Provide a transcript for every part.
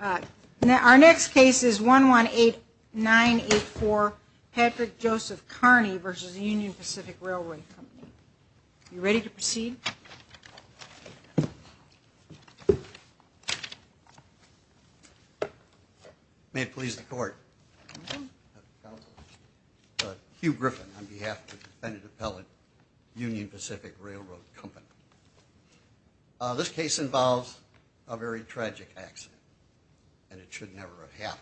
Our next case is 118984 Patrick Joseph Kearney v. Union Pacific R.R. Co. Are you ready to proceed? May it please the Court. Hugh Griffin on behalf of the defendant appellant, Union Pacific R.R. Co. This case involves a very tragic accident, and it should never have happened.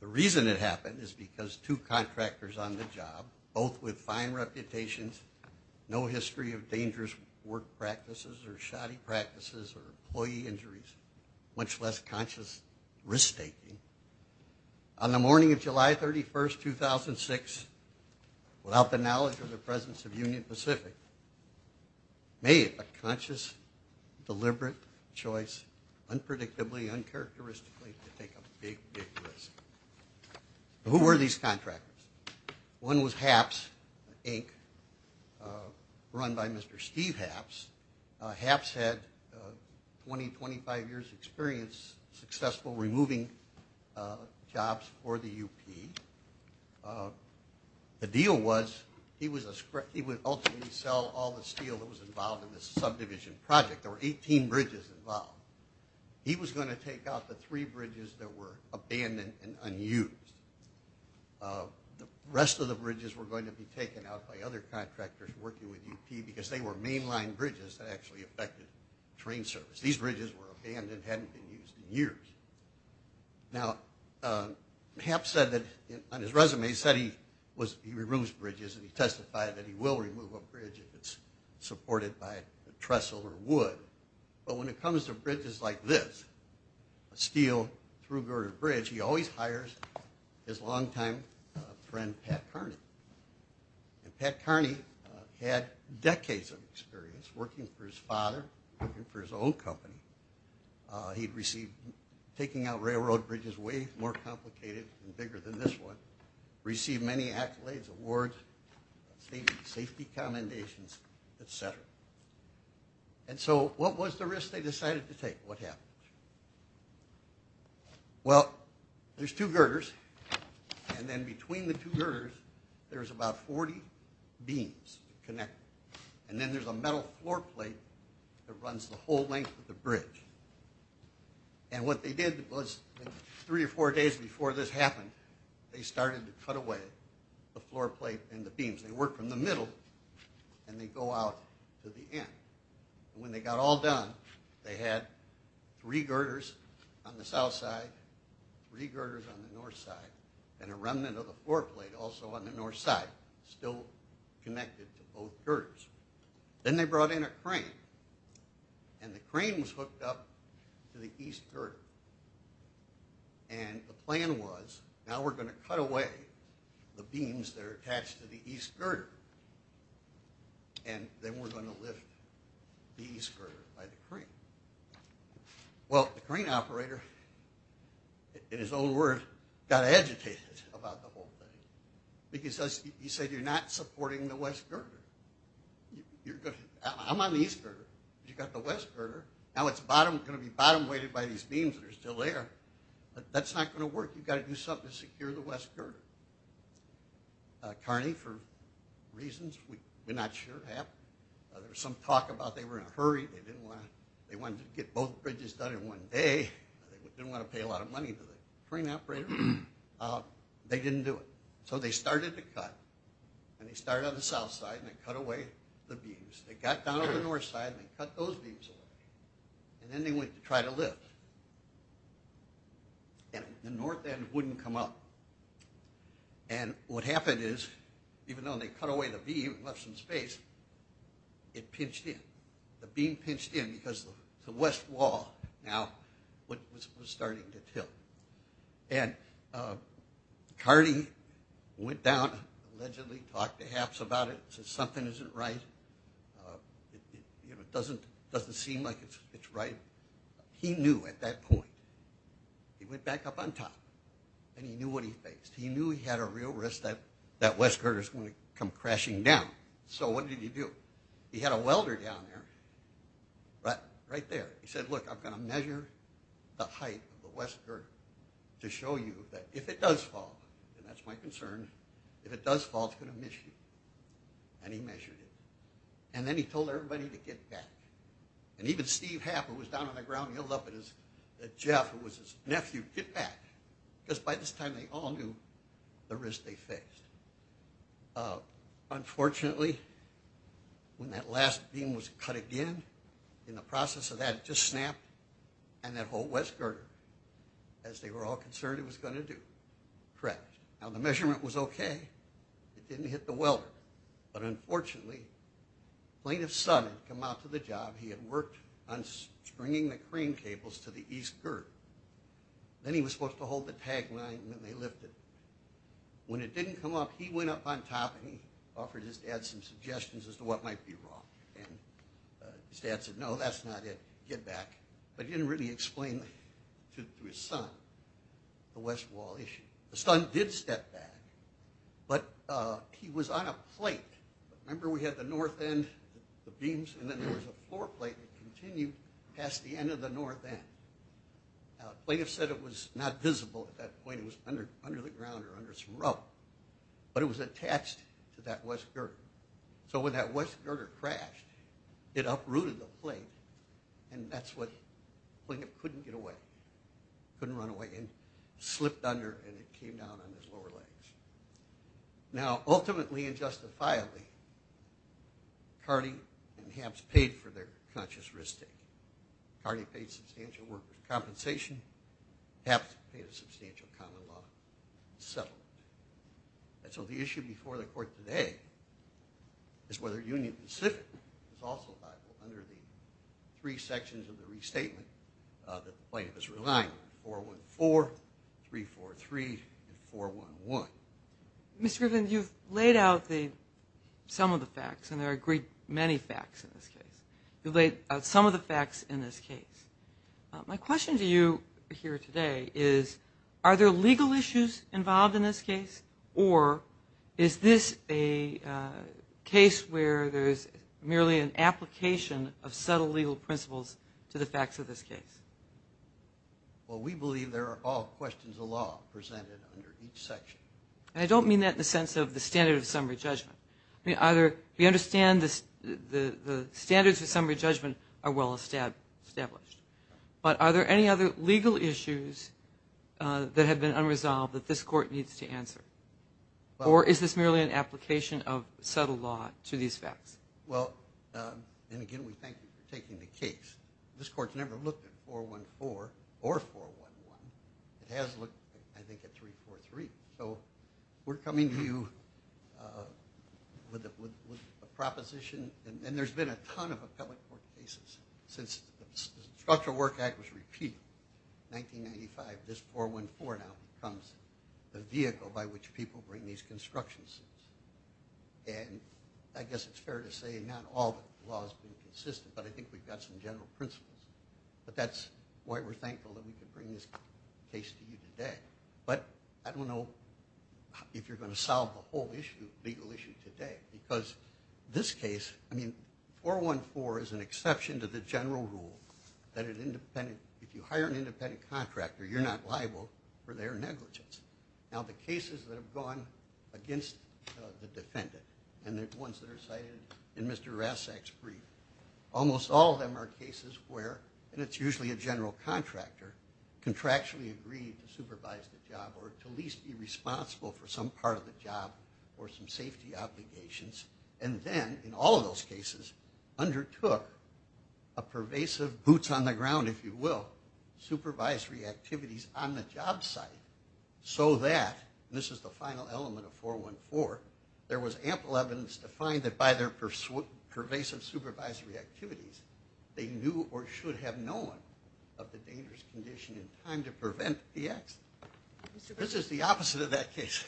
The reason it happened is because two contractors on the job, both with fine reputations, no history of dangerous work practices or shoddy practices or employee injuries, much less conscious risk-taking, on the morning of July 31, 2006, without the knowledge or the presence of Union Pacific, made a conscious, deliberate choice, unpredictably, uncharacteristically, to take a big, big risk. Who were these contractors? One was HAPS, Inc., run by Mr. Steve HAPS. HAPS had 20, 25 years' experience successful removing jobs for the UP. The deal was he would ultimately sell all the steel that was involved in this subdivision project. There were 18 bridges involved. He was going to take out the three bridges that were abandoned and unused. The rest of the bridges were going to be taken out by other contractors working with UP because they were mainline bridges that actually affected train service. These bridges were abandoned and hadn't been used in years. Now, HAPS said that, on his resume, he said he removes bridges, and he testified that he will remove a bridge if it's supported by trestle or wood. But when it comes to bridges like this, a steel through girder bridge, he always hires his longtime friend, Pat Kearney. And Pat Kearney had decades of experience working for his father, working for his own company. He'd received taking out railroad bridges way more complicated and bigger than this one, received many accolades, awards, safety commendations, et cetera. And so what was the risk they decided to take? What happened? Well, there's two girders, and then between the two girders, there's about 40 beams connected. And then there's a metal floor plate that runs the whole length of the bridge. And what they did was three or four days before this happened, they started to cut away the floor plate and the beams. They work from the middle, and they go out to the end. When they got all done, they had three girders on the south side, three girders on the north side, and a remnant of the floor plate also on the north side, still connected to both girders. Then they brought in a crane, and the crane was hooked up to the east girder. And the plan was, now we're going to cut away the beams that are attached to the east girder, and then we're going to lift the east girder by the crane. Well, the crane operator, in his own words, got agitated about the whole thing because he said, you're not supporting the west girder. I'm on the east girder. You've got the west girder. Now it's going to be bottom-weighted by these beams that are still there. That's not going to work. You've got to do something to secure the west girder. Kearney, for reasons we're not sure, happened. There was some talk about they were in a hurry. They wanted to get both bridges done in one day. They didn't want to pay a lot of money to the crane operator. They didn't do it. So they started to cut, and they started on the south side, and they cut away the beams. They got down to the north side, and they cut those beams away. And then they went to try to lift. And the north end wouldn't come up. And what happened is, even though they cut away the beam and left some space, it pinched in. The beam pinched in because the west wall now was starting to tilt. And Kearney went down, allegedly talked to Haps about it, said something isn't right. It doesn't seem like it's right. He knew at that point. He went back up on top, and he knew what he faced. He knew he had a real risk that that west girder was going to come crashing down. So what did he do? He had a welder down there, right there. He said, look, I'm going to measure the height of the west girder to show you that if it does fall, and that's my concern, if it does fall, it's going to miss you. And he measured it. And then he told everybody to get back. And even Steve Hap, who was down on the ground, yelled up at Jeff, who was his nephew, get back. Because by this time, they all knew the risk they faced. Unfortunately, when that last beam was cut again, in the process of that, it just snapped, and that whole west girder, as they were all concerned, it was going to do, crash. Now, the measurement was okay. It didn't hit the welder. But unfortunately, a plaintiff's son had come out to the job. He had worked on stringing the crane cables to the east girder. Then he was supposed to hold the tagline, and then they lifted it. When it didn't come up, he went up on top, and he offered his dad some suggestions as to what might be wrong. And his dad said, no, that's not it. Get back. But he didn't really explain to his son the west wall issue. The son did step back, but he was on a plate. Remember, we had the north end, the beams, and then there was a floor plate that continued past the end of the north end. Now, the plaintiff said it was not visible at that point. It was under the ground or under some rope. But it was attached to that west girder. So when that west girder crashed, it uprooted the plate, and that's when the plaintiff couldn't get away, couldn't run away, and slipped under, and it came down on his lower legs. Now, ultimately and justifiably, Carty and Hamps paid for their conscious risk taking. Carty paid substantial workers' compensation. Hamps paid a substantial common law settlement. And so the issue before the court today is whether Union Pacific is also viable under the three sections of the restatement that the plaintiff is relying on, 414, 343, and 411. Ms. Griffin, you've laid out some of the facts, and there are a great many facts in this case. You laid out some of the facts in this case. My question to you here today is are there legal issues involved in this case, or is this a case where there is merely an application of subtle legal principles to the facts of this case? Well, we believe there are all questions of law presented under each section. And I don't mean that in the sense of the standard of summary judgment. I mean, either we understand the standards of summary judgment are well established, but are there any other legal issues that have been unresolved that this court needs to answer, or is this merely an application of subtle law to these facts? Well, and again, we thank you for taking the case. This court's never looked at 414 or 411. It has looked, I think, at 343. So we're coming to you with a proposition. And there's been a ton of appellate court cases since the Structural Work Act was repealed in 1995. This 414 now becomes the vehicle by which people bring these construction suits. And I guess it's fair to say not all the law has been consistent, but I think we've got some general principles. But that's why we're thankful that we could bring this case to you today. But I don't know if you're going to solve the whole legal issue today, because this case, I mean, 414 is an exception to the general rule that if you hire an independent contractor, you're not liable for their negligence. Now, the cases that have gone against the defendant, and the ones that are cited in Mr. Rassak's brief, almost all of them are cases where, and it's usually a general contractor, contractually agreed to supervise the job or to at least be responsible for some part of the job or some safety obligations, and then, in all of those cases, undertook a pervasive, boots on the ground, if you will, supervisory activities on the job site so that, and this is the final element of 414, there was ample evidence to find that by their pervasive supervisory activities, they knew or should have known of the dangerous condition in time to prevent the accident. This is the opposite of that case.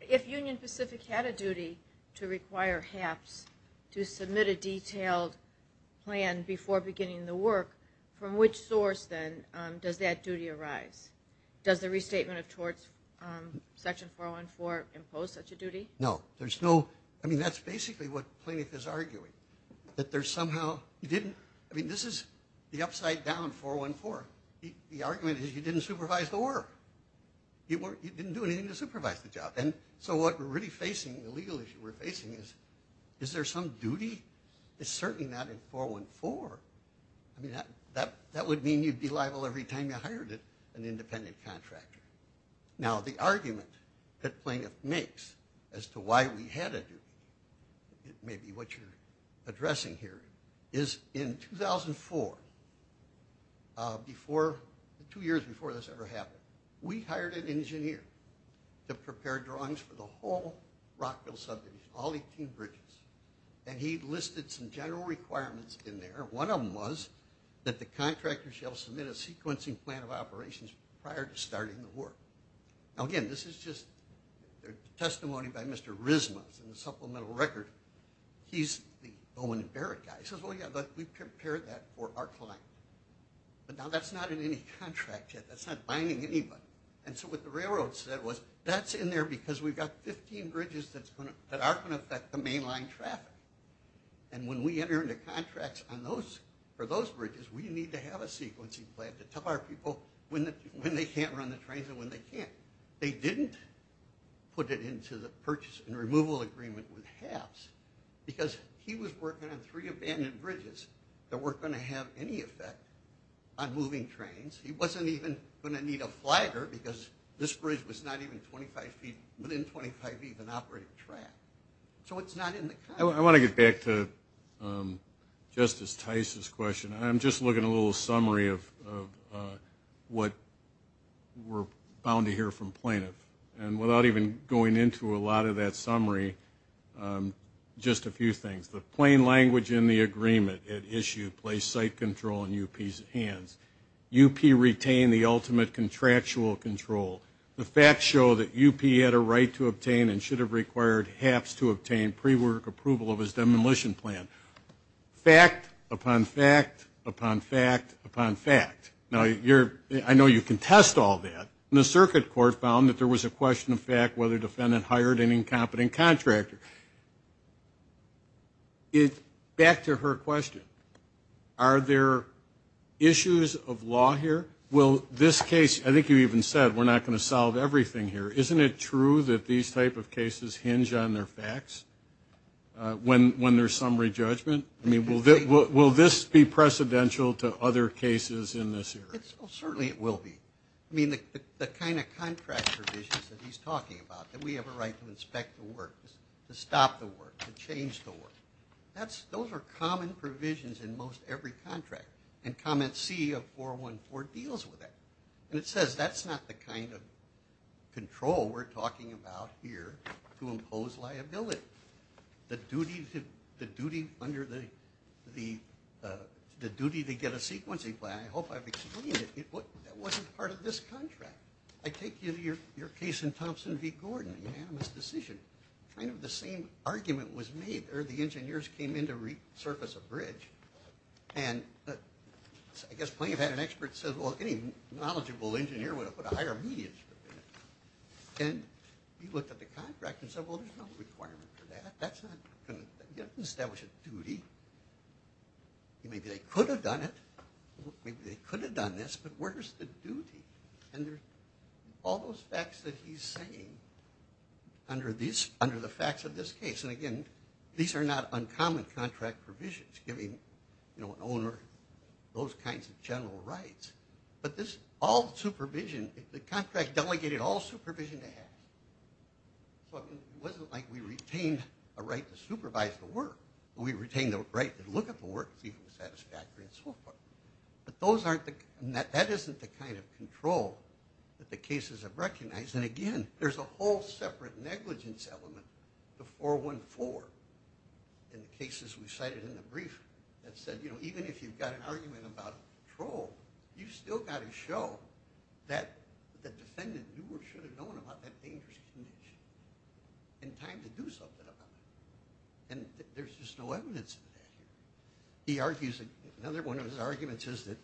If Union Pacific had a duty to require HAPS to submit a detailed plan before beginning the work, from which source, then, does that duty arise? Does the restatement of torts, section 414, impose such a duty? No. There's no, I mean, that's basically what Plinyk is arguing, that there's somehow, you didn't, I mean, this is the upside down 414. The argument is you didn't supervise the work. You didn't do anything to supervise the job. And so what we're really facing, the legal issue we're facing is, is there some duty? It's certainly not in 414. I mean, that would mean you'd be liable every time you hired an independent contractor. Now, the argument that Plinyk makes as to why we had a duty, maybe what you're addressing here, is in 2004, before, two years before this ever happened, we hired an engineer to prepare drawings for the whole Rockville subdivision, all 18 bridges. And he listed some general requirements in there. One of them was that the contractor shall submit a sequencing plan of operations prior to starting the work. Now, again, this is just testimony by Mr. Rizma. It's in the supplemental record. He's the Bowman and Barrett guy. He says, well, yeah, but we prepared that for our client. But now that's not in any contract yet. That's not binding anybody. And so what the railroad said was, that's in there because we've got 15 bridges that aren't going to affect the mainline traffic. And when we enter into contracts for those bridges, we need to have a sequencing plan to tell our people when they can't run the trains and when they can't. They didn't put it into the purchase and removal agreement with HABS because he was working on three abandoned bridges that weren't going to have any effect on moving trains. He wasn't even going to need a flagger because this bridge was not even within 25 feet of an operating track. So it's not in the contract. I want to get back to Justice Tice's question. I'm just looking at a little summary of what we're bound to hear from plaintiffs. And without even going into a lot of that summary, just a few things. The plain language in the agreement it issued placed site control in UP's hands. UP retained the ultimate contractual control. The facts show that UP had a right to obtain and should have required HABS to obtain pre-work approval of his demolition plan. Fact upon fact upon fact upon fact. Now, I know you contest all that. And the circuit court found that there was a question of fact whether the defendant hired an incompetent contractor. Back to her question. Are there issues of law here? Well, this case, I think you even said we're not going to solve everything here. Isn't it true that these type of cases hinge on their facts when there's summary judgment? I mean, will this be precedential to other cases in this area? Certainly it will be. I mean, the kind of contract provisions that he's talking about, that we have a right to inspect the work, to stop the work, to change the work, those are common provisions in most every contract. And comment C of 414 deals with that. And it says that's not the kind of control we're talking about here to impose liability. The duty to get a sequencing plan, I hope I've explained it, that wasn't part of this contract. I take you to your case in Thompson v. Gordon, unanimous decision. And kind of the same argument was made there. The engineers came in to resurface a bridge. And I guess Plaintiff had an expert who said, well, any knowledgeable engineer would have put a higher median strip in it. And he looked at the contract and said, well, there's no requirement for that. That's not going to establish a duty. Maybe they could have done it. Maybe they could have done this, but where's the duty? And there's all those facts that he's saying under the facts of this case. And, again, these are not uncommon contract provisions, giving an owner those kinds of general rights. But this all supervision, the contract delegated all supervision to Hatch. So it wasn't like we retained a right to supervise the work. We retained the right to look at the work, see if it was satisfactory and so forth. But that isn't the kind of control that the cases have recognized. And, again, there's a whole separate negligence element, the 414, in the cases we cited in the brief that said, you know, even if you've got an argument about control, you've still got to show that the defendant knew or should have known about that dangerous condition in time to do something about it. And there's just no evidence of that here. He argues that another one of his arguments is that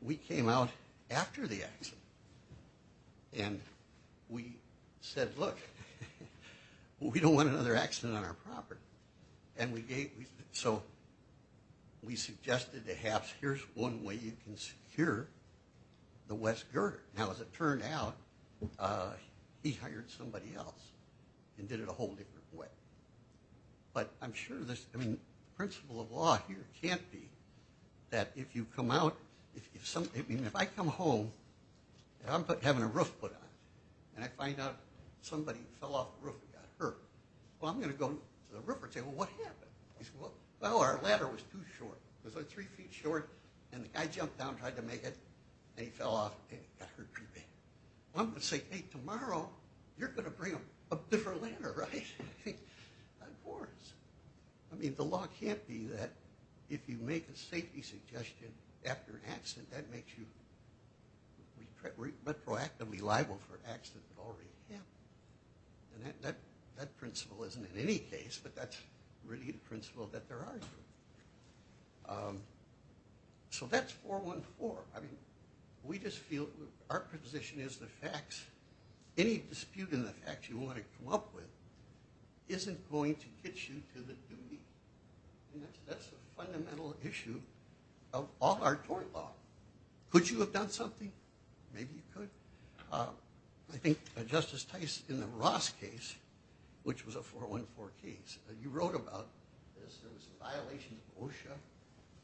we came out after the accident and we said, look, we don't want another accident on our property. And so we suggested to Hatch, here's one way you can secure the West Girder. Now, as it turned out, he hired somebody else and did it a whole different way. But I'm sure the principle of law here can't be that if you come out, if I come home and I'm having a roof put on, and I find out somebody fell off the roof and got hurt, well, I'm going to go to the roof and say, well, what happened? Well, our ladder was too short. It was like three feet short, and the guy jumped down and tried to make it, and he fell off and got hurt pretty bad. Well, I'm going to say, hey, tomorrow you're going to bring a different ladder, right? Of course. I mean, the law can't be that if you make a safety suggestion after an accident, that makes you retroactively liable for an accident that already happened. And that principle isn't in any case, but that's really the principle that there are. So that's 414. Any dispute in the facts you want to come up with isn't going to get you to the duty. That's a fundamental issue of all our tort law. Could you have done something? Maybe you could. I think Justice Tice in the Ross case, which was a 414 case, you wrote about this. There was a violation of OSHA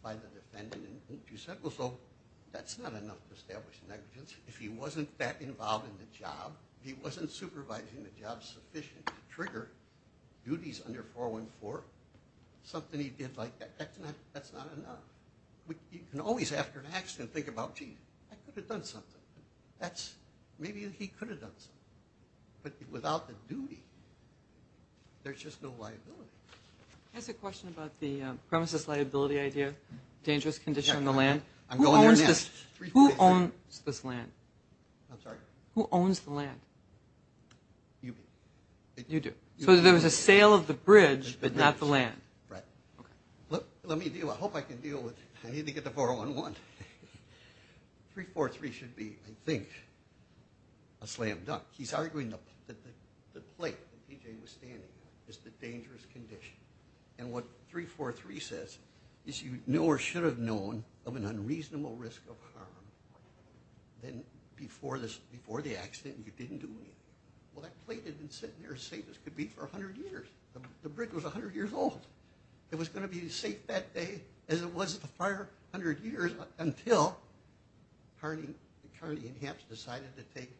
by the defendant, and you said, well, so that's not enough to establish negligence. If he wasn't that involved in the job, if he wasn't supervising the job sufficient to trigger duties under 414, something he did like that, that's not enough. You can always, after an accident, think about, gee, I could have done something. Maybe he could have done something. But without the duty, there's just no liability. I have a question about the premises liability idea, dangerous condition on the land. I'm going there next. Who owns this land? I'm sorry? Who owns the land? You do. You do. So there was a sale of the bridge, but not the land. Right. Let me deal with it. I hope I can deal with it. I need to get the 411. 343 should be, I think, a slam dunk. He's arguing that the plate that P.J. was standing on is the dangerous condition. And what 343 says is you know or should have known of an unreasonable risk of harm before the accident and you didn't do anything. Well, that plate had been sitting there as safe as could be for 100 years. The bridge was 100 years old. It was going to be as safe that day as it was the prior 100 years until Carney and Hamps decided to take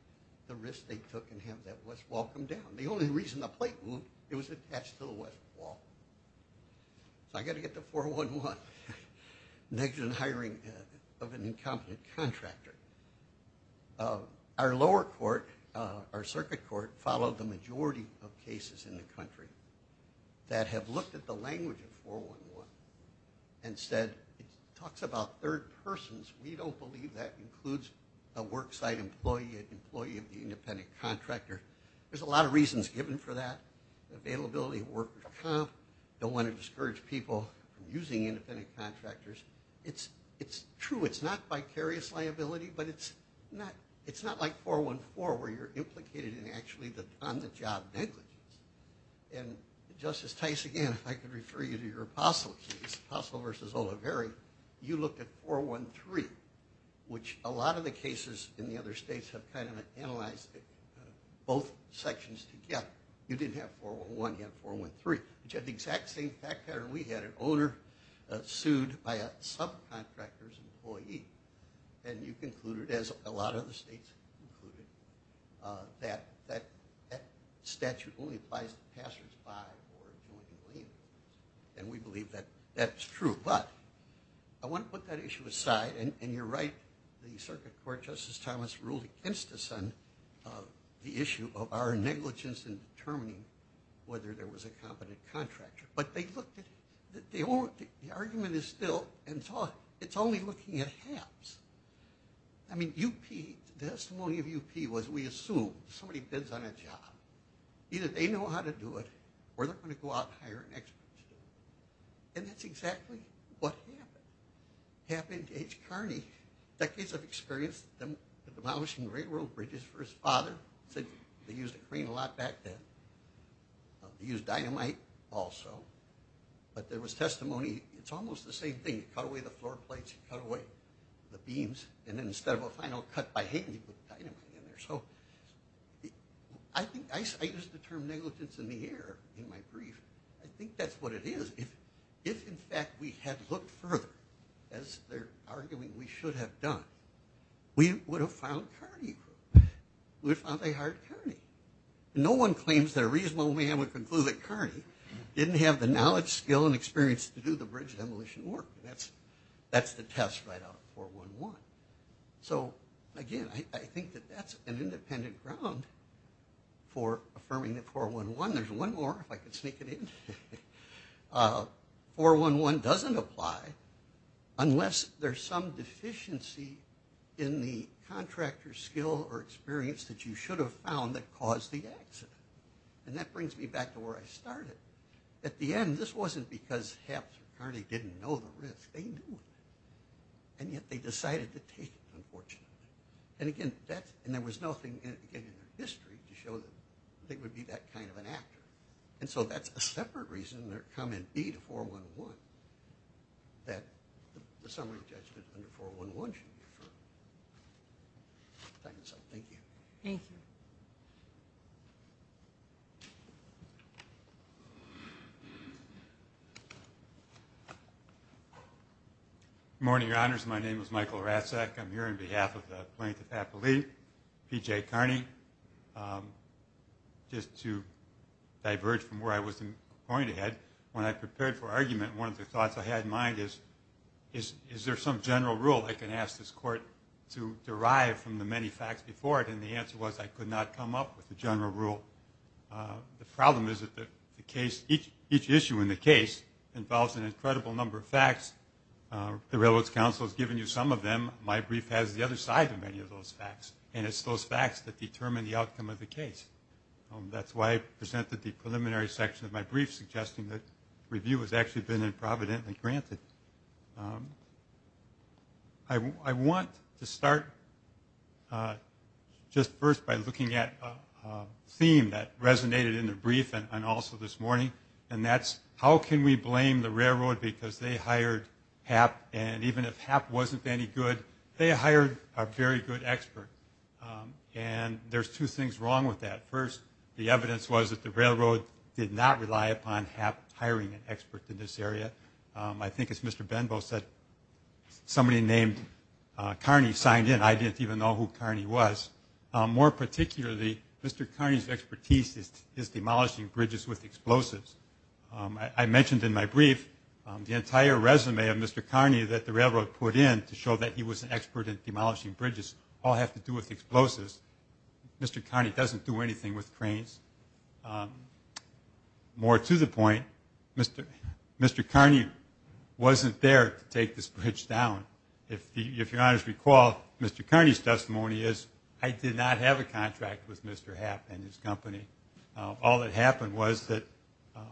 the risk they took and have that west wall come down. The only reason the plate moved, it was attached to the west wall. So I've got to get the 411. Negative hiring of an incompetent contractor. Our lower court, our circuit court, followed the majority of cases in the country that have looked at the language of 411 and said it talks about third persons. We don't believe that includes a worksite employee, an employee of the independent contractor. There's a lot of reasons given for that. Availability of worker comp. Don't want to discourage people from using independent contractors. It's true, it's not vicarious liability, but it's not like 414 where you're implicated in actually the on-the-job negligence. And Justice Tice, again, if I could refer you to your Apostle case, Apostle v. Oliveri, you looked at 413, which a lot of the cases in the other states have kind of analyzed both sections together. You didn't have 411, you had 413, which had the exact same fact pattern we had, an owner sued by a subcontractor's employee. And you concluded, as a lot of the states concluded, that that statute only applies to passersby or joint employees. And we believe that that's true. But I want to put that issue aside. And you're right, the Circuit Court, Justice Thomas, ruled against us on the issue of our negligence in determining whether there was a competent contractor. But they looked at it. The argument is still, it's only looking at halves. I mean, UP, the testimony of UP was we assume somebody bids on a job. Either they know how to do it, or they're going to go out and hire an expert. And that's exactly what happened to H. Carney. Decades of experience demolishing railroad bridges for his father. They used a crane a lot back then. They used dynamite also. But there was testimony, it's almost the same thing. You cut away the floor plates, you cut away the beams, and then instead of a final cut by hand, you put dynamite in there. So I think I use the term negligence in the air in my brief. I think that's what it is. If, in fact, we had looked further, as they're arguing we should have done, we would have found Carney. We would have found a hard Carney. No one claims that a reasonable man would conclude that Carney didn't have the knowledge, skill, and experience to do the bridge demolition work. That's the test right out of 411. So, again, I think that that's an independent ground for affirming that 411. There's one more, if I can sneak it in. 411 doesn't apply unless there's some deficiency in the contractor's skill or experience that you should have found that caused the accident. And that brings me back to where I started. At the end, this wasn't because Haps or Carney didn't know the risk. They knew it. And yet they decided to take it, unfortunately. And, again, that's – and there was nothing, again, in their history to show that they would be that kind of an actor. And so that's a separate reason they're coming B to 411, that the summary judgment under 411 should be true. Thank you. Thank you. Good morning, Your Honors. My name is Michael Racek. I'm here on behalf of the plaintiff's affilee, P.J. Carney. Just to diverge from where I was going to head, when I prepared for argument, one of the thoughts I had in mind is, is there some general rule I can ask this court to derive from the many facts before it? And the answer was I could not come up with a general rule. The problem is that the case – each issue in the case involves an incredible number of facts. The Railroad's counsel has given you some of them. My brief has the other side of many of those facts, and it's those facts that determine the outcome of the case. That's why I presented the preliminary section of my brief, suggesting that review has actually been improvidently granted. I want to start just first by looking at a theme that resonated in the brief and also this morning, and that's how can we blame the railroad because they hired HAP, and even if HAP wasn't any good, they hired a very good expert. And there's two things wrong with that. First, the evidence was that the railroad did not rely upon HAP hiring an expert in this area. I think, as Mr. Benbow said, somebody named Carney signed in. I didn't even know who Carney was. More particularly, Mr. Carney's expertise is demolishing bridges with explosives. I mentioned in my brief the entire resume of Mr. Carney that the railroad put in to show that he was an expert in demolishing bridges all have to do with explosives. Mr. Carney doesn't do anything with cranes. More to the point, Mr. Carney wasn't there to take this bridge down. If your honors recall, Mr. Carney's testimony is, I did not have a contract with Mr. HAP and his company. All that happened was that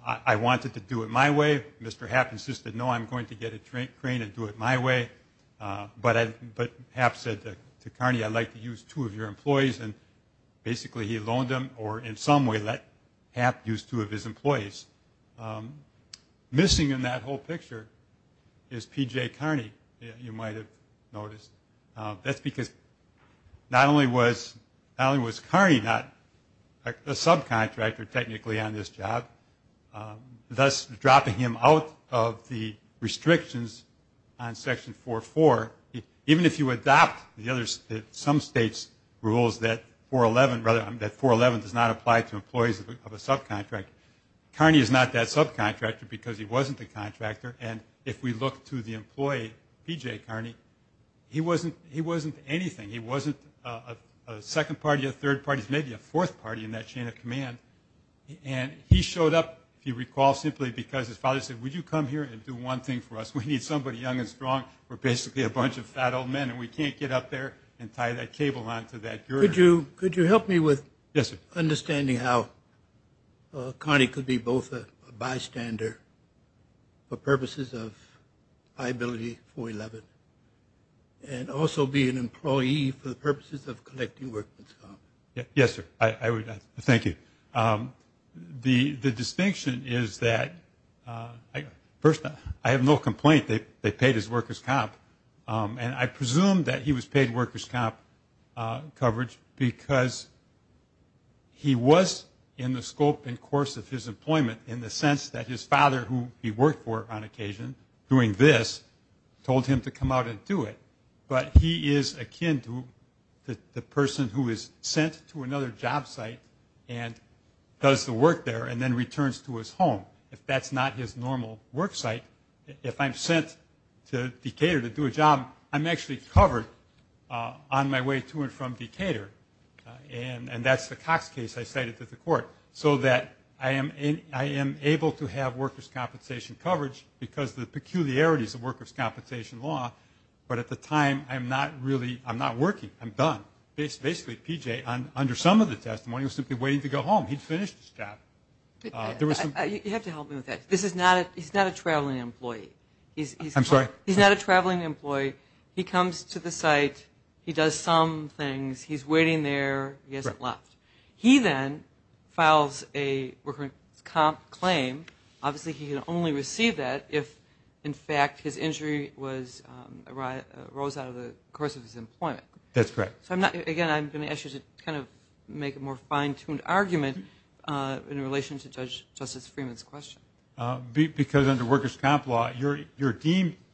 I wanted to do it my way. Mr. HAP insisted, no, I'm going to get a crane and do it my way. But HAP said to Carney, I'd like to use two of your employees, and basically he loaned them or in some way let HAP use two of his employees. Missing in that whole picture is P.J. Carney, you might have noticed. That's because not only was Carney not a subcontractor technically on this job, thus dropping him out of the restrictions on Section 4.4, even if you adopt some states' rules that 4.11 does not apply to employees of a subcontractor, Carney is not that subcontractor because he wasn't the contractor. And if we look to the employee, P.J. Carney, he wasn't anything. He wasn't a second party, a third party, maybe a fourth party in that chain of command. And he showed up, if you recall, simply because his father said, would you come here and do one thing for us? We need somebody young and strong. We're basically a bunch of fat old men, and we can't get up there and tie that cable on to that girder. Could you help me with understanding how Carney could be both a bystander for purposes of liability for 4.11 and also be an employee for the purposes of collecting workers' comp? Yes, sir. Thank you. The distinction is that, first, I have no complaint that they paid his workers' comp, and I presume that he was paid workers' comp coverage because he was in the scope and course of his employment in the sense that his father, who he worked for on occasion doing this, told him to come out and do it. But he is akin to the person who is sent to another job site and does the work there and then returns to his home. If that's not his normal work site, if I'm sent to Decatur to do a job, I'm actually covered on my way to and from Decatur, and that's the Cox case I cited to the court, so that I am able to have workers' compensation coverage because of the peculiarities of workers' compensation law. But at the time, I'm not working. I'm done. Basically, P.J., under some of the testimony, was simply waiting to go home. He'd finished his job. You have to help me with that. He's not a traveling employee. I'm sorry? He's not a traveling employee. He comes to the site. He does some things. He's waiting there. He hasn't left. He then files a workers' comp claim. Obviously, he can only receive that if, in fact, his injury arose out of the course of his employment. That's correct. So, again, I'm going to ask you to kind of make a more fine-tuned argument in relation to Justice Freeman's question. Because under workers' comp law, you're deemed –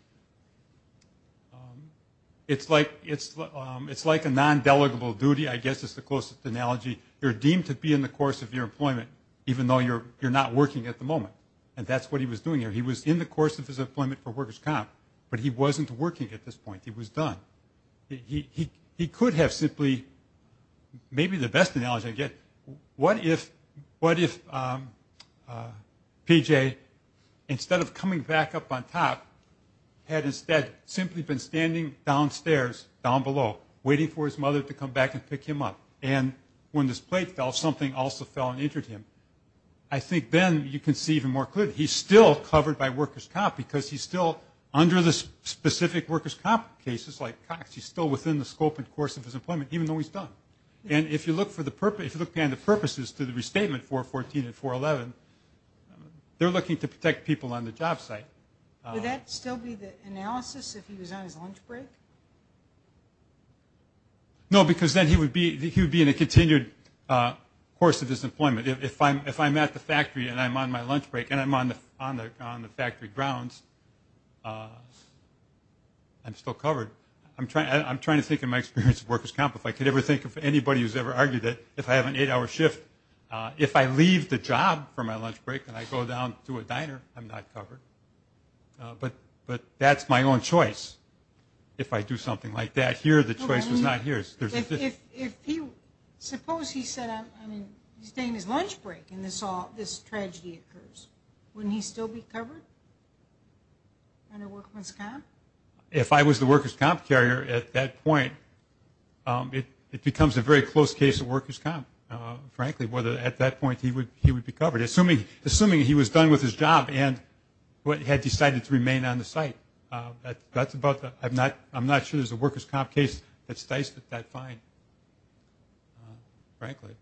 it's like a non-delegable duty, I guess is the closest analogy. You're deemed to be in the course of your employment, even though you're not working at the moment, and that's what he was doing there. He was in the course of his employment for workers' comp, but he wasn't working at this point. He was done. He could have simply – maybe the best analogy I get, what if PJ, instead of coming back up on top, had instead simply been standing downstairs, down below, waiting for his mother to come back and pick him up? And when this plate fell, something also fell and injured him. I think then you can see even more clearly. He's still covered by workers' comp because he's still under the specific workers' comp cases, like Cox. He's still within the scope and course of his employment, even though he's done. And if you look for the – if you look behind the purposes to the restatement, 414 and 411, they're looking to protect people on the job site. Would that still be the analysis if he was on his lunch break? No, because then he would be in a continued course of his employment. If I'm at the factory and I'm on my lunch break and I'm on the factory grounds, I'm still covered. I'm trying to think in my experience of workers' comp, if I could ever think of anybody who's ever argued that if I have an eight-hour shift, if I leave the job for my lunch break and I go down to a diner, I'm not covered. But that's my own choice. If I do something like that here, the choice is not here. Suppose he said, I mean, he's taking his lunch break and this tragedy occurs. Wouldn't he still be covered under workers' comp? If I was the workers' comp carrier at that point, it becomes a very close case of workers' comp, frankly, whether at that point he would be covered, assuming he was done with his job and had decided to remain on the site. I'm not sure there's a workers' comp case that's diced at that point, frankly.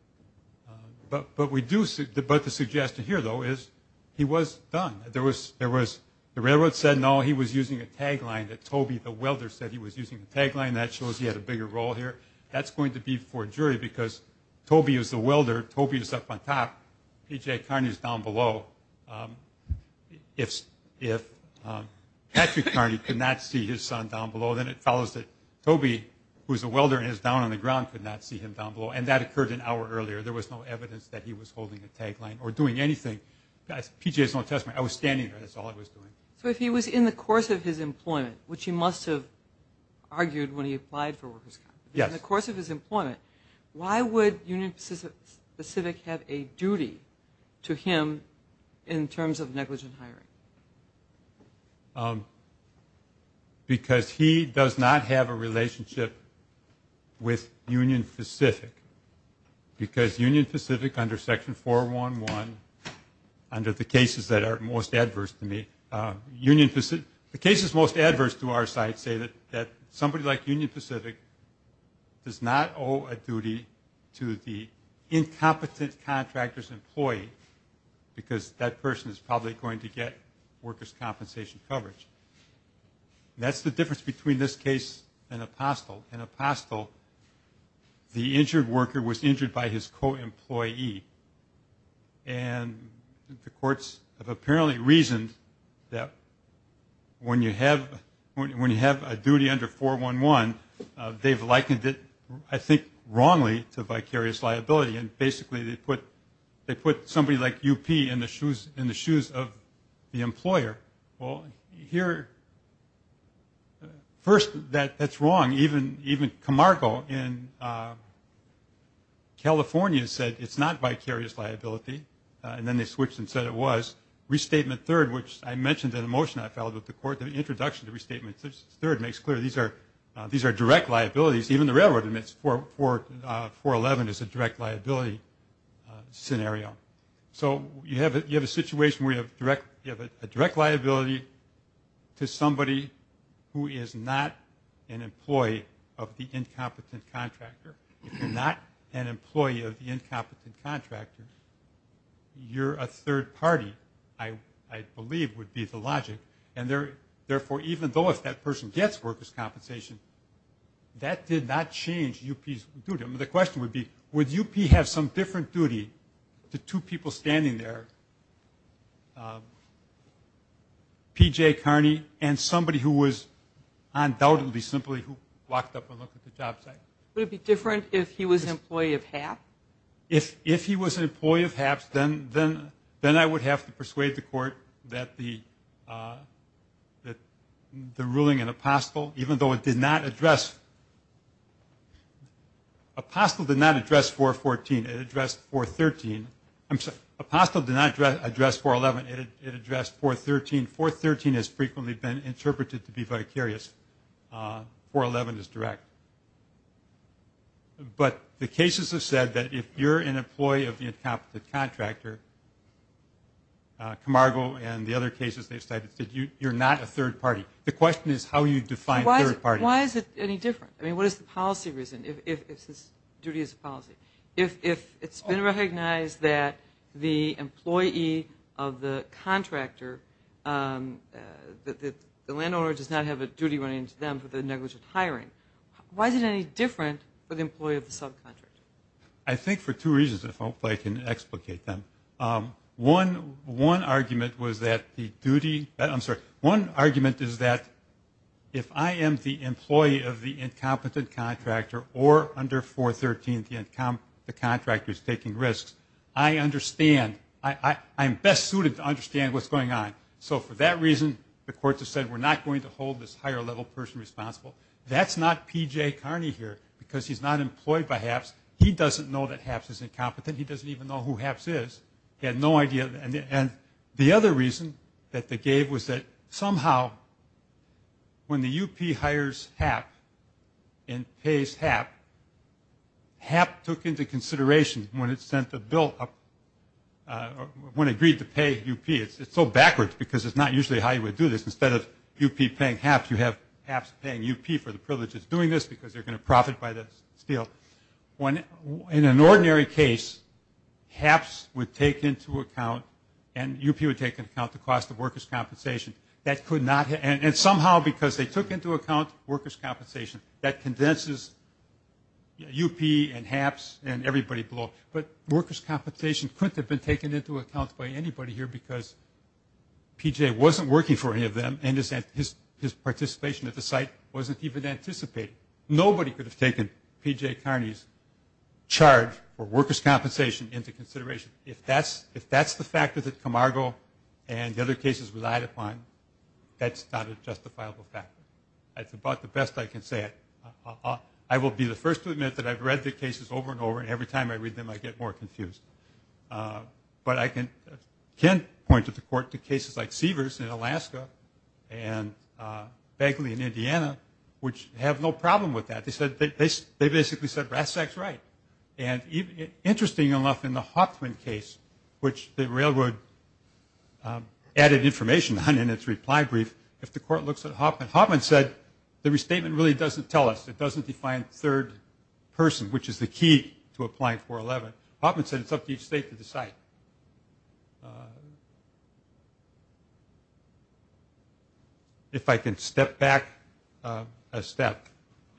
But the suggestion here, though, is he was done. The railroad said, no, he was using a tagline that Toby, the welder, said he was using a tagline. That shows he had a bigger role here. That's going to be for a jury because Toby is the welder. Toby is up on top. P.J. Carney is down below. If Patrick Carney could not see his son down below, then it follows that Toby, who's a welder and is down on the ground, could not see him down below. And that occurred an hour earlier. There was no evidence that he was holding a tagline or doing anything. P.J. has no testimony. I was standing there. That's all I was doing. So if he was in the course of his employment, which he must have argued when he applied for workers' comp, why would Union Pacific have a duty to him in terms of negligent hiring? Because he does not have a relationship with Union Pacific. Because Union Pacific under Section 411, under the cases that are most adverse to me, the cases most adverse to our side say that somebody like Union Pacific does not owe a duty to the incompetent contractor's employee because that person is probably going to get workers' compensation coverage. That's the difference between this case and Apostle. In Apostle, the injured worker was injured by his co-employee. And the courts have apparently reasoned that when you have a duty under 411, they've likened it, I think, wrongly to vicarious liability. And basically they put somebody like UP in the shoes of the employer. Well, here, first, that's wrong. Even Camargo in California said it's not vicarious liability. And then they switched and said it was. Restatement 3rd, which I mentioned in a motion I filed with the court, the introduction to Restatement 3rd makes clear these are direct liabilities. Even the railroad admits 411 is a direct liability scenario. So you have a situation where you have a direct liability to somebody who is not an employee. If you're not an employee of the incompetent contractor, you're a third party, I believe would be the logic. And therefore, even though if that person gets workers' compensation, that did not change UP's duty. I mean, the question would be, would UP have some different duty to two people standing there, P.J. Kearney and somebody who was undoubtedly simply who walked up and looked at the job site. Would it be different if he was an employee of HAPS? If he was an employee of HAPS, then I would have to persuade the court that the ruling in Apostle, even though it did not address, Apostle did not address 414. It addressed 413, Apostle did not address 411, it addressed 413. 413 has frequently been interpreted to be vicarious. 411 is direct. But the cases have said that if you're an employee of the incompetent contractor, Camargo and the other cases they've cited, you're not a third party. The question is how you define third party. Why is it any different? I mean, what is the policy reason, if duty is a policy? If it's been recognized that the employee of the contractor, the landowner does not have a duty running to them for the negligent hiring, why is it any different for the employee of the subcontractor? I think for two reasons, if I can explicate them. One argument was that the duty, I'm sorry. One argument is that if I am the employee of the incompetent contractor or under 413 the contractor is taking risks, I understand, I'm best suited to understand what's going on. So for that reason, the courts have said we're not going to hold this higher level person responsible. That's not P.J. Carney here, because he's not employed by HAPS. He doesn't know that HAPS is incompetent. He doesn't even know who HAPS is. He had no idea. And the other reason that they gave was that somehow when the UP hires HAP and pays HAP, HAP took into consideration when it sent the bill up, when it agreed to pay UP. It's so backwards, because it's not usually how you would do this. Instead of UP paying HAPS, you have HAPS paying UP for the privileges doing this, because they're going to profit by the steal. In an ordinary case, HAPS would take into account and UP would take into account the cost of workers' compensation. And somehow because they took into account workers' compensation, that condenses UP and HAPS and everybody below. But workers' compensation couldn't have been taken into account by anybody here, because P.J. wasn't working for any of them, and his participation at the site wasn't even anticipated. Nobody could have taken P.J. Carney's charge for workers' compensation into consideration. If that's the factor that Camargo and the other cases relied upon, that's not a justifiable factor. That's about the best I can say it. I get more confused. But I can point to the court to cases like Seavers in Alaska and Bagley in Indiana, which have no problem with that. They basically said RASAC's right. And interesting enough, in the Hoffman case, which the railroad added information on in its reply brief, if the court looks at Hoffman, Hoffman said the restatement really doesn't tell us. It doesn't define third person, which is the key to applying 411. Hoffman said it's up to each state to decide. If I can step back a step.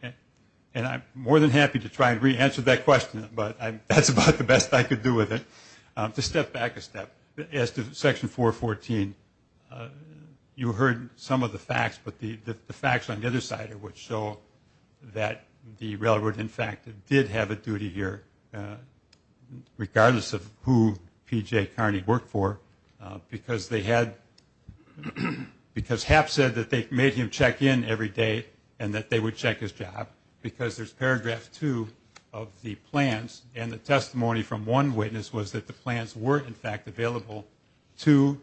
And I'm more than happy to try and re-answer that question, but that's about the best I could do with it. To step back a step. As to section 414, you heard some of the facts, but the facts on the other side would show that the railroad in fact did have a duty here, regardless of who P.J. Carney worked for, because HAP said that they made him check in every day and that they would check his job, because there's paragraph two of the plans, and the testimony from one witness was that the plans were in fact available to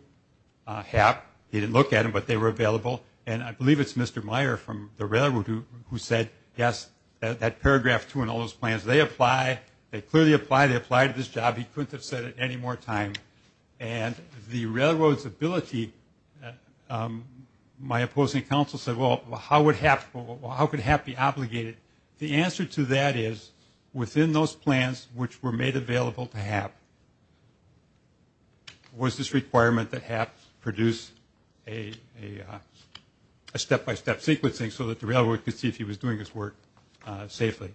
HAP. He didn't look at them, but they were available. And I believe it's Mr. Meyer from the railroad who said, yes, that paragraph two in all those plans, they apply, they clearly apply, they apply to this job, he couldn't have said it any more time. And the railroad's ability, my opposing counsel said, well, how could HAP be obligated? The answer to that is, within those plans which were made available to HAP, was this requirement that HAP produce a step-by-step sequencing so that the railroad could see if he was doing his work safely.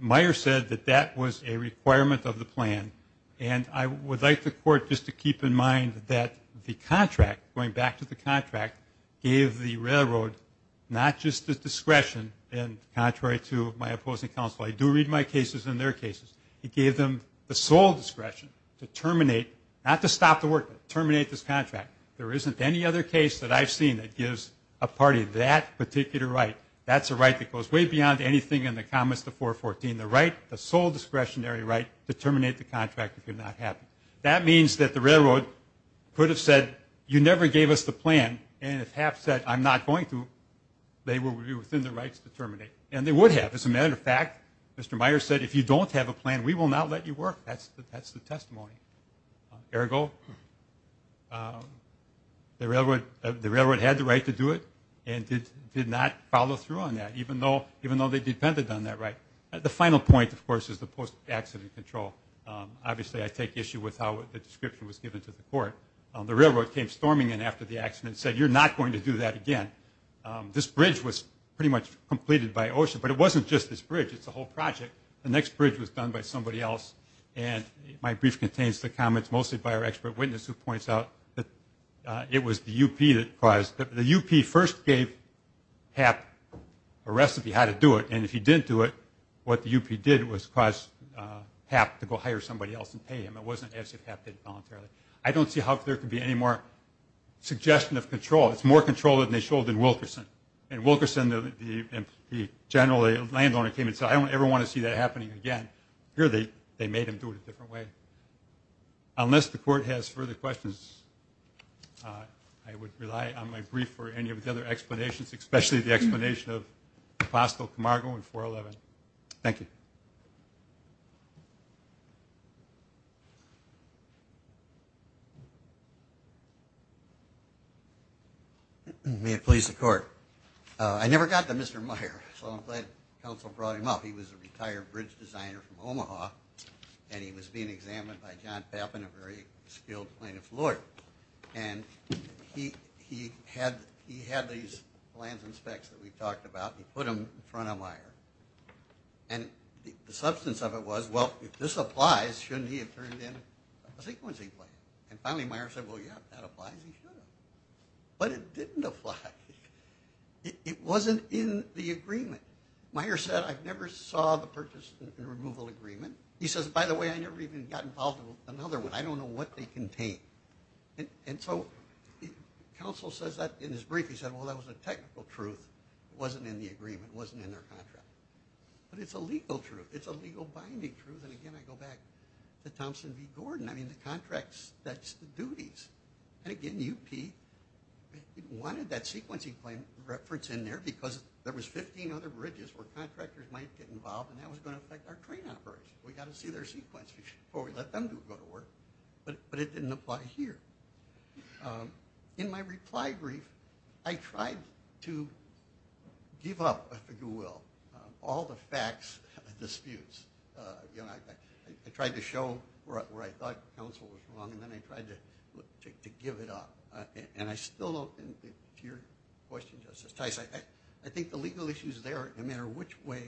Meyer said that that was a requirement of the plan, and I would like the court just to keep in mind that the contract, going back to the contract, gave the railroad not just the discretion, and contrary to my opposing counsel, I do read my cases and their cases, it gave them the sole discretion to terminate, not to stop the work, but terminate this contract. There isn't any other case that I've seen that gives a party that particular right. That's a right that goes way beyond anything in the comments to 414, the right, the sole discretionary right to terminate the contract if you're not happy. That means that the railroad could have said, you never gave us the plan, and if HAP said, I'm not going to, they were within their rights to terminate. And they would have, as a matter of fact, Mr. Meyer said, if you don't have a plan, we will not let you work. That's the testimony. Ergo, the railroad had the right to do it and did not follow through on that, even though they depended on that right. The final point, of course, is the post-accident control. Obviously, I take issue with how the description was given to the court. The railroad came storming in after the accident and said, you're not going to do that again. This bridge was pretty much completed by OSHA, but it wasn't just this bridge. It's a whole project. The next bridge was done by somebody else, and my brief contains the comments mostly by our expert witness who points out that it was the UP that caused it. The UP first gave HAP a recipe how to do it, and if he didn't do it, what the UP did was cause HAP to go hire somebody else and pay him. It wasn't as if HAP did it voluntarily. I don't see how there could be any more suggestion of control. It's more control than they showed in Wilkerson. I don't ever want to see that happening again. Here they made him do it a different way. Unless the court has further questions, I would rely on my brief for any of the other explanations, especially the explanation of Apostle Camargo in 411. Thank you. May it please the court. I never got to Mr. Meyer, so I'm glad counsel brought him up. He was a retired bridge designer from Omaha, and he was being examined by John Pappin, a very skilled plaintiff's lawyer. And he had these plans and specs that we've talked about, and he put them in front of Meyer. And the substance of it was, well, if this applies, shouldn't he have turned in a sequencing plan? And finally Meyer said, well, yeah, if that applies, he should have. But it didn't apply. It wasn't in the agreement. Meyer said, I never saw the purchase and removal agreement. He says, by the way, I never even got involved in another one. I don't know what they contain. And so counsel says that in his brief. He said, well, that was a technical truth. It wasn't in the agreement. It wasn't in their contract. But it's a legal truth. It's a legal binding truth. And again, I go back to Thompson v. Gordon. I mean, the contracts, that's the duties. And again, UP wanted that sequencing reference in there because there was 15 other bridges where contractors might get involved, and that was going to affect our train operation. We've got to see their sequencing before we let them go to work. But it didn't apply here. In my reply brief, I tried to give up, if you will, all the facts of the disputes. I tried to show where I thought counsel was wrong, and then I tried to give it up. And I still, to your question, Justice Tice, I think the legal issues there, no matter which way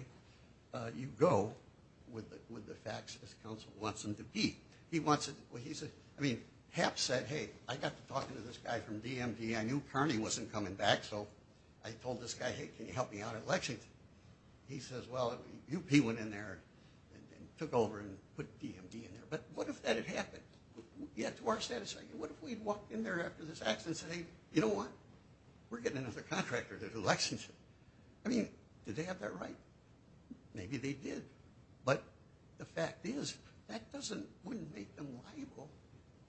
you go with the facts, as counsel wants them to be. Hap said, hey, I got to talking to this guy from DMD. I knew Kearney wasn't coming back, so I told this guy, hey, can you help me out at Lexington? And he says, well, UP went in there and took over and put DMD in there. But what if that had happened? Yeah, to our satisfaction, what if we had walked in there after this accident and said, hey, you know what? We're getting another contractor to do Lexington. I mean, did they have that right? Maybe they did. But the fact is, that wouldn't make them liable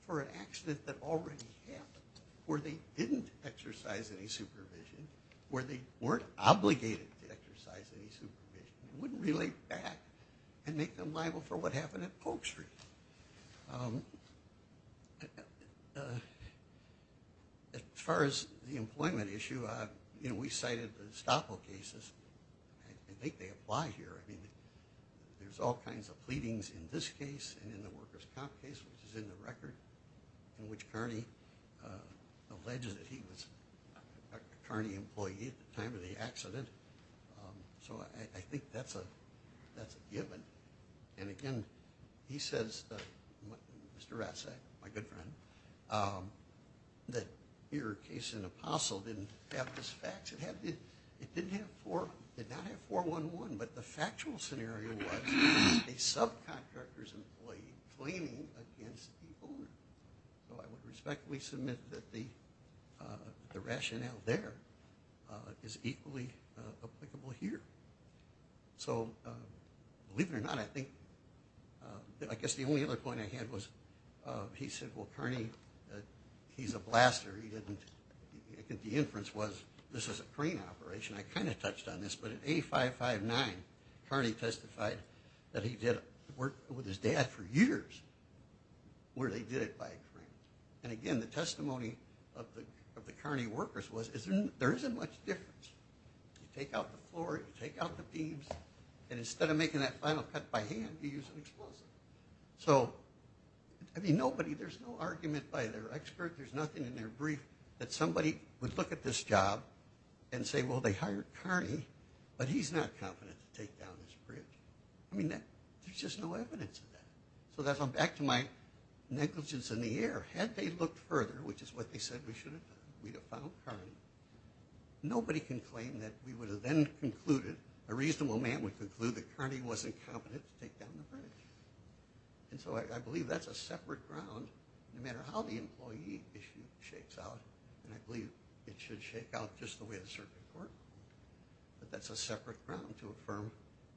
for an accident that already happened where they didn't exercise any supervision, where they weren't obligated to exercise any supervision. It wouldn't relate back and make them liable for what happened at Polk Street. As far as the employment issue, we cited the Estoppo cases. I think they apply here. I mean, there's all kinds of pleadings in this case and in the workers' comp case, which is in the record, in which Kearney alleges that he was a Kearney employee at the time of the accident. So I think that's a given. And again, he says, Mr. Rasek, my good friend, that your case in Apostle didn't have this fact. It did not have 411, but the factual scenario was a subcontractor's employee claiming against the owner. So I would respectfully submit that the rationale there is equally applicable here. Believe it or not, I guess the only other point I had was he said, well, Kearney, he's a blaster. The inference was this was a crane operation. I kind of touched on this, but in A559, Kearney testified that he did work with his dad for years where they did it by crane. And again, the testimony of the Kearney workers was there isn't much difference. You take out the floor, you take out the beams, and instead of making that final cut by hand, you use an explosive. There's no argument by their expert, there's nothing in their brief that somebody would look at this job and say, well, they hired Kearney, but he's not confident to take down this bridge. There's just no evidence of that. So that's back to my negligence in the air. Had they looked further, which is what they said we should have done, we'd have found Kearney. Nobody can claim that we would have then concluded, a reasonable man would conclude that Kearney wasn't confident to take down the bridge. And so I believe that's a separate ground, no matter how the employee issue shakes out. And I believe it should shake out just the way the circuit court ruled. But that's a separate ground to affirm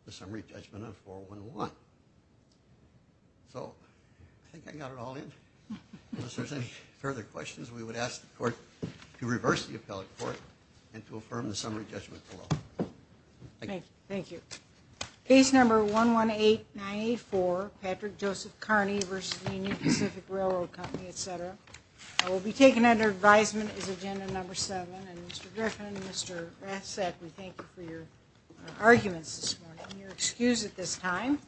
the summary judgment on 411. So I think I got it all in. If there's any further questions, we would ask the court to reverse the appellate court and to affirm the summary judgment below. Thank you. Case number 1189A4, Patrick Joseph Kearney v. Union Pacific Railroad Company, etc. Will be taken under advisement as agenda number seven. And Mr. Griffin and Mr. Rathsack, we thank you for your arguments this morning and your excuse at this time.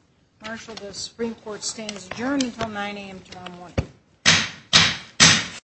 Marshal, the Supreme Court stands adjourned until 9 a.m. tomorrow morning.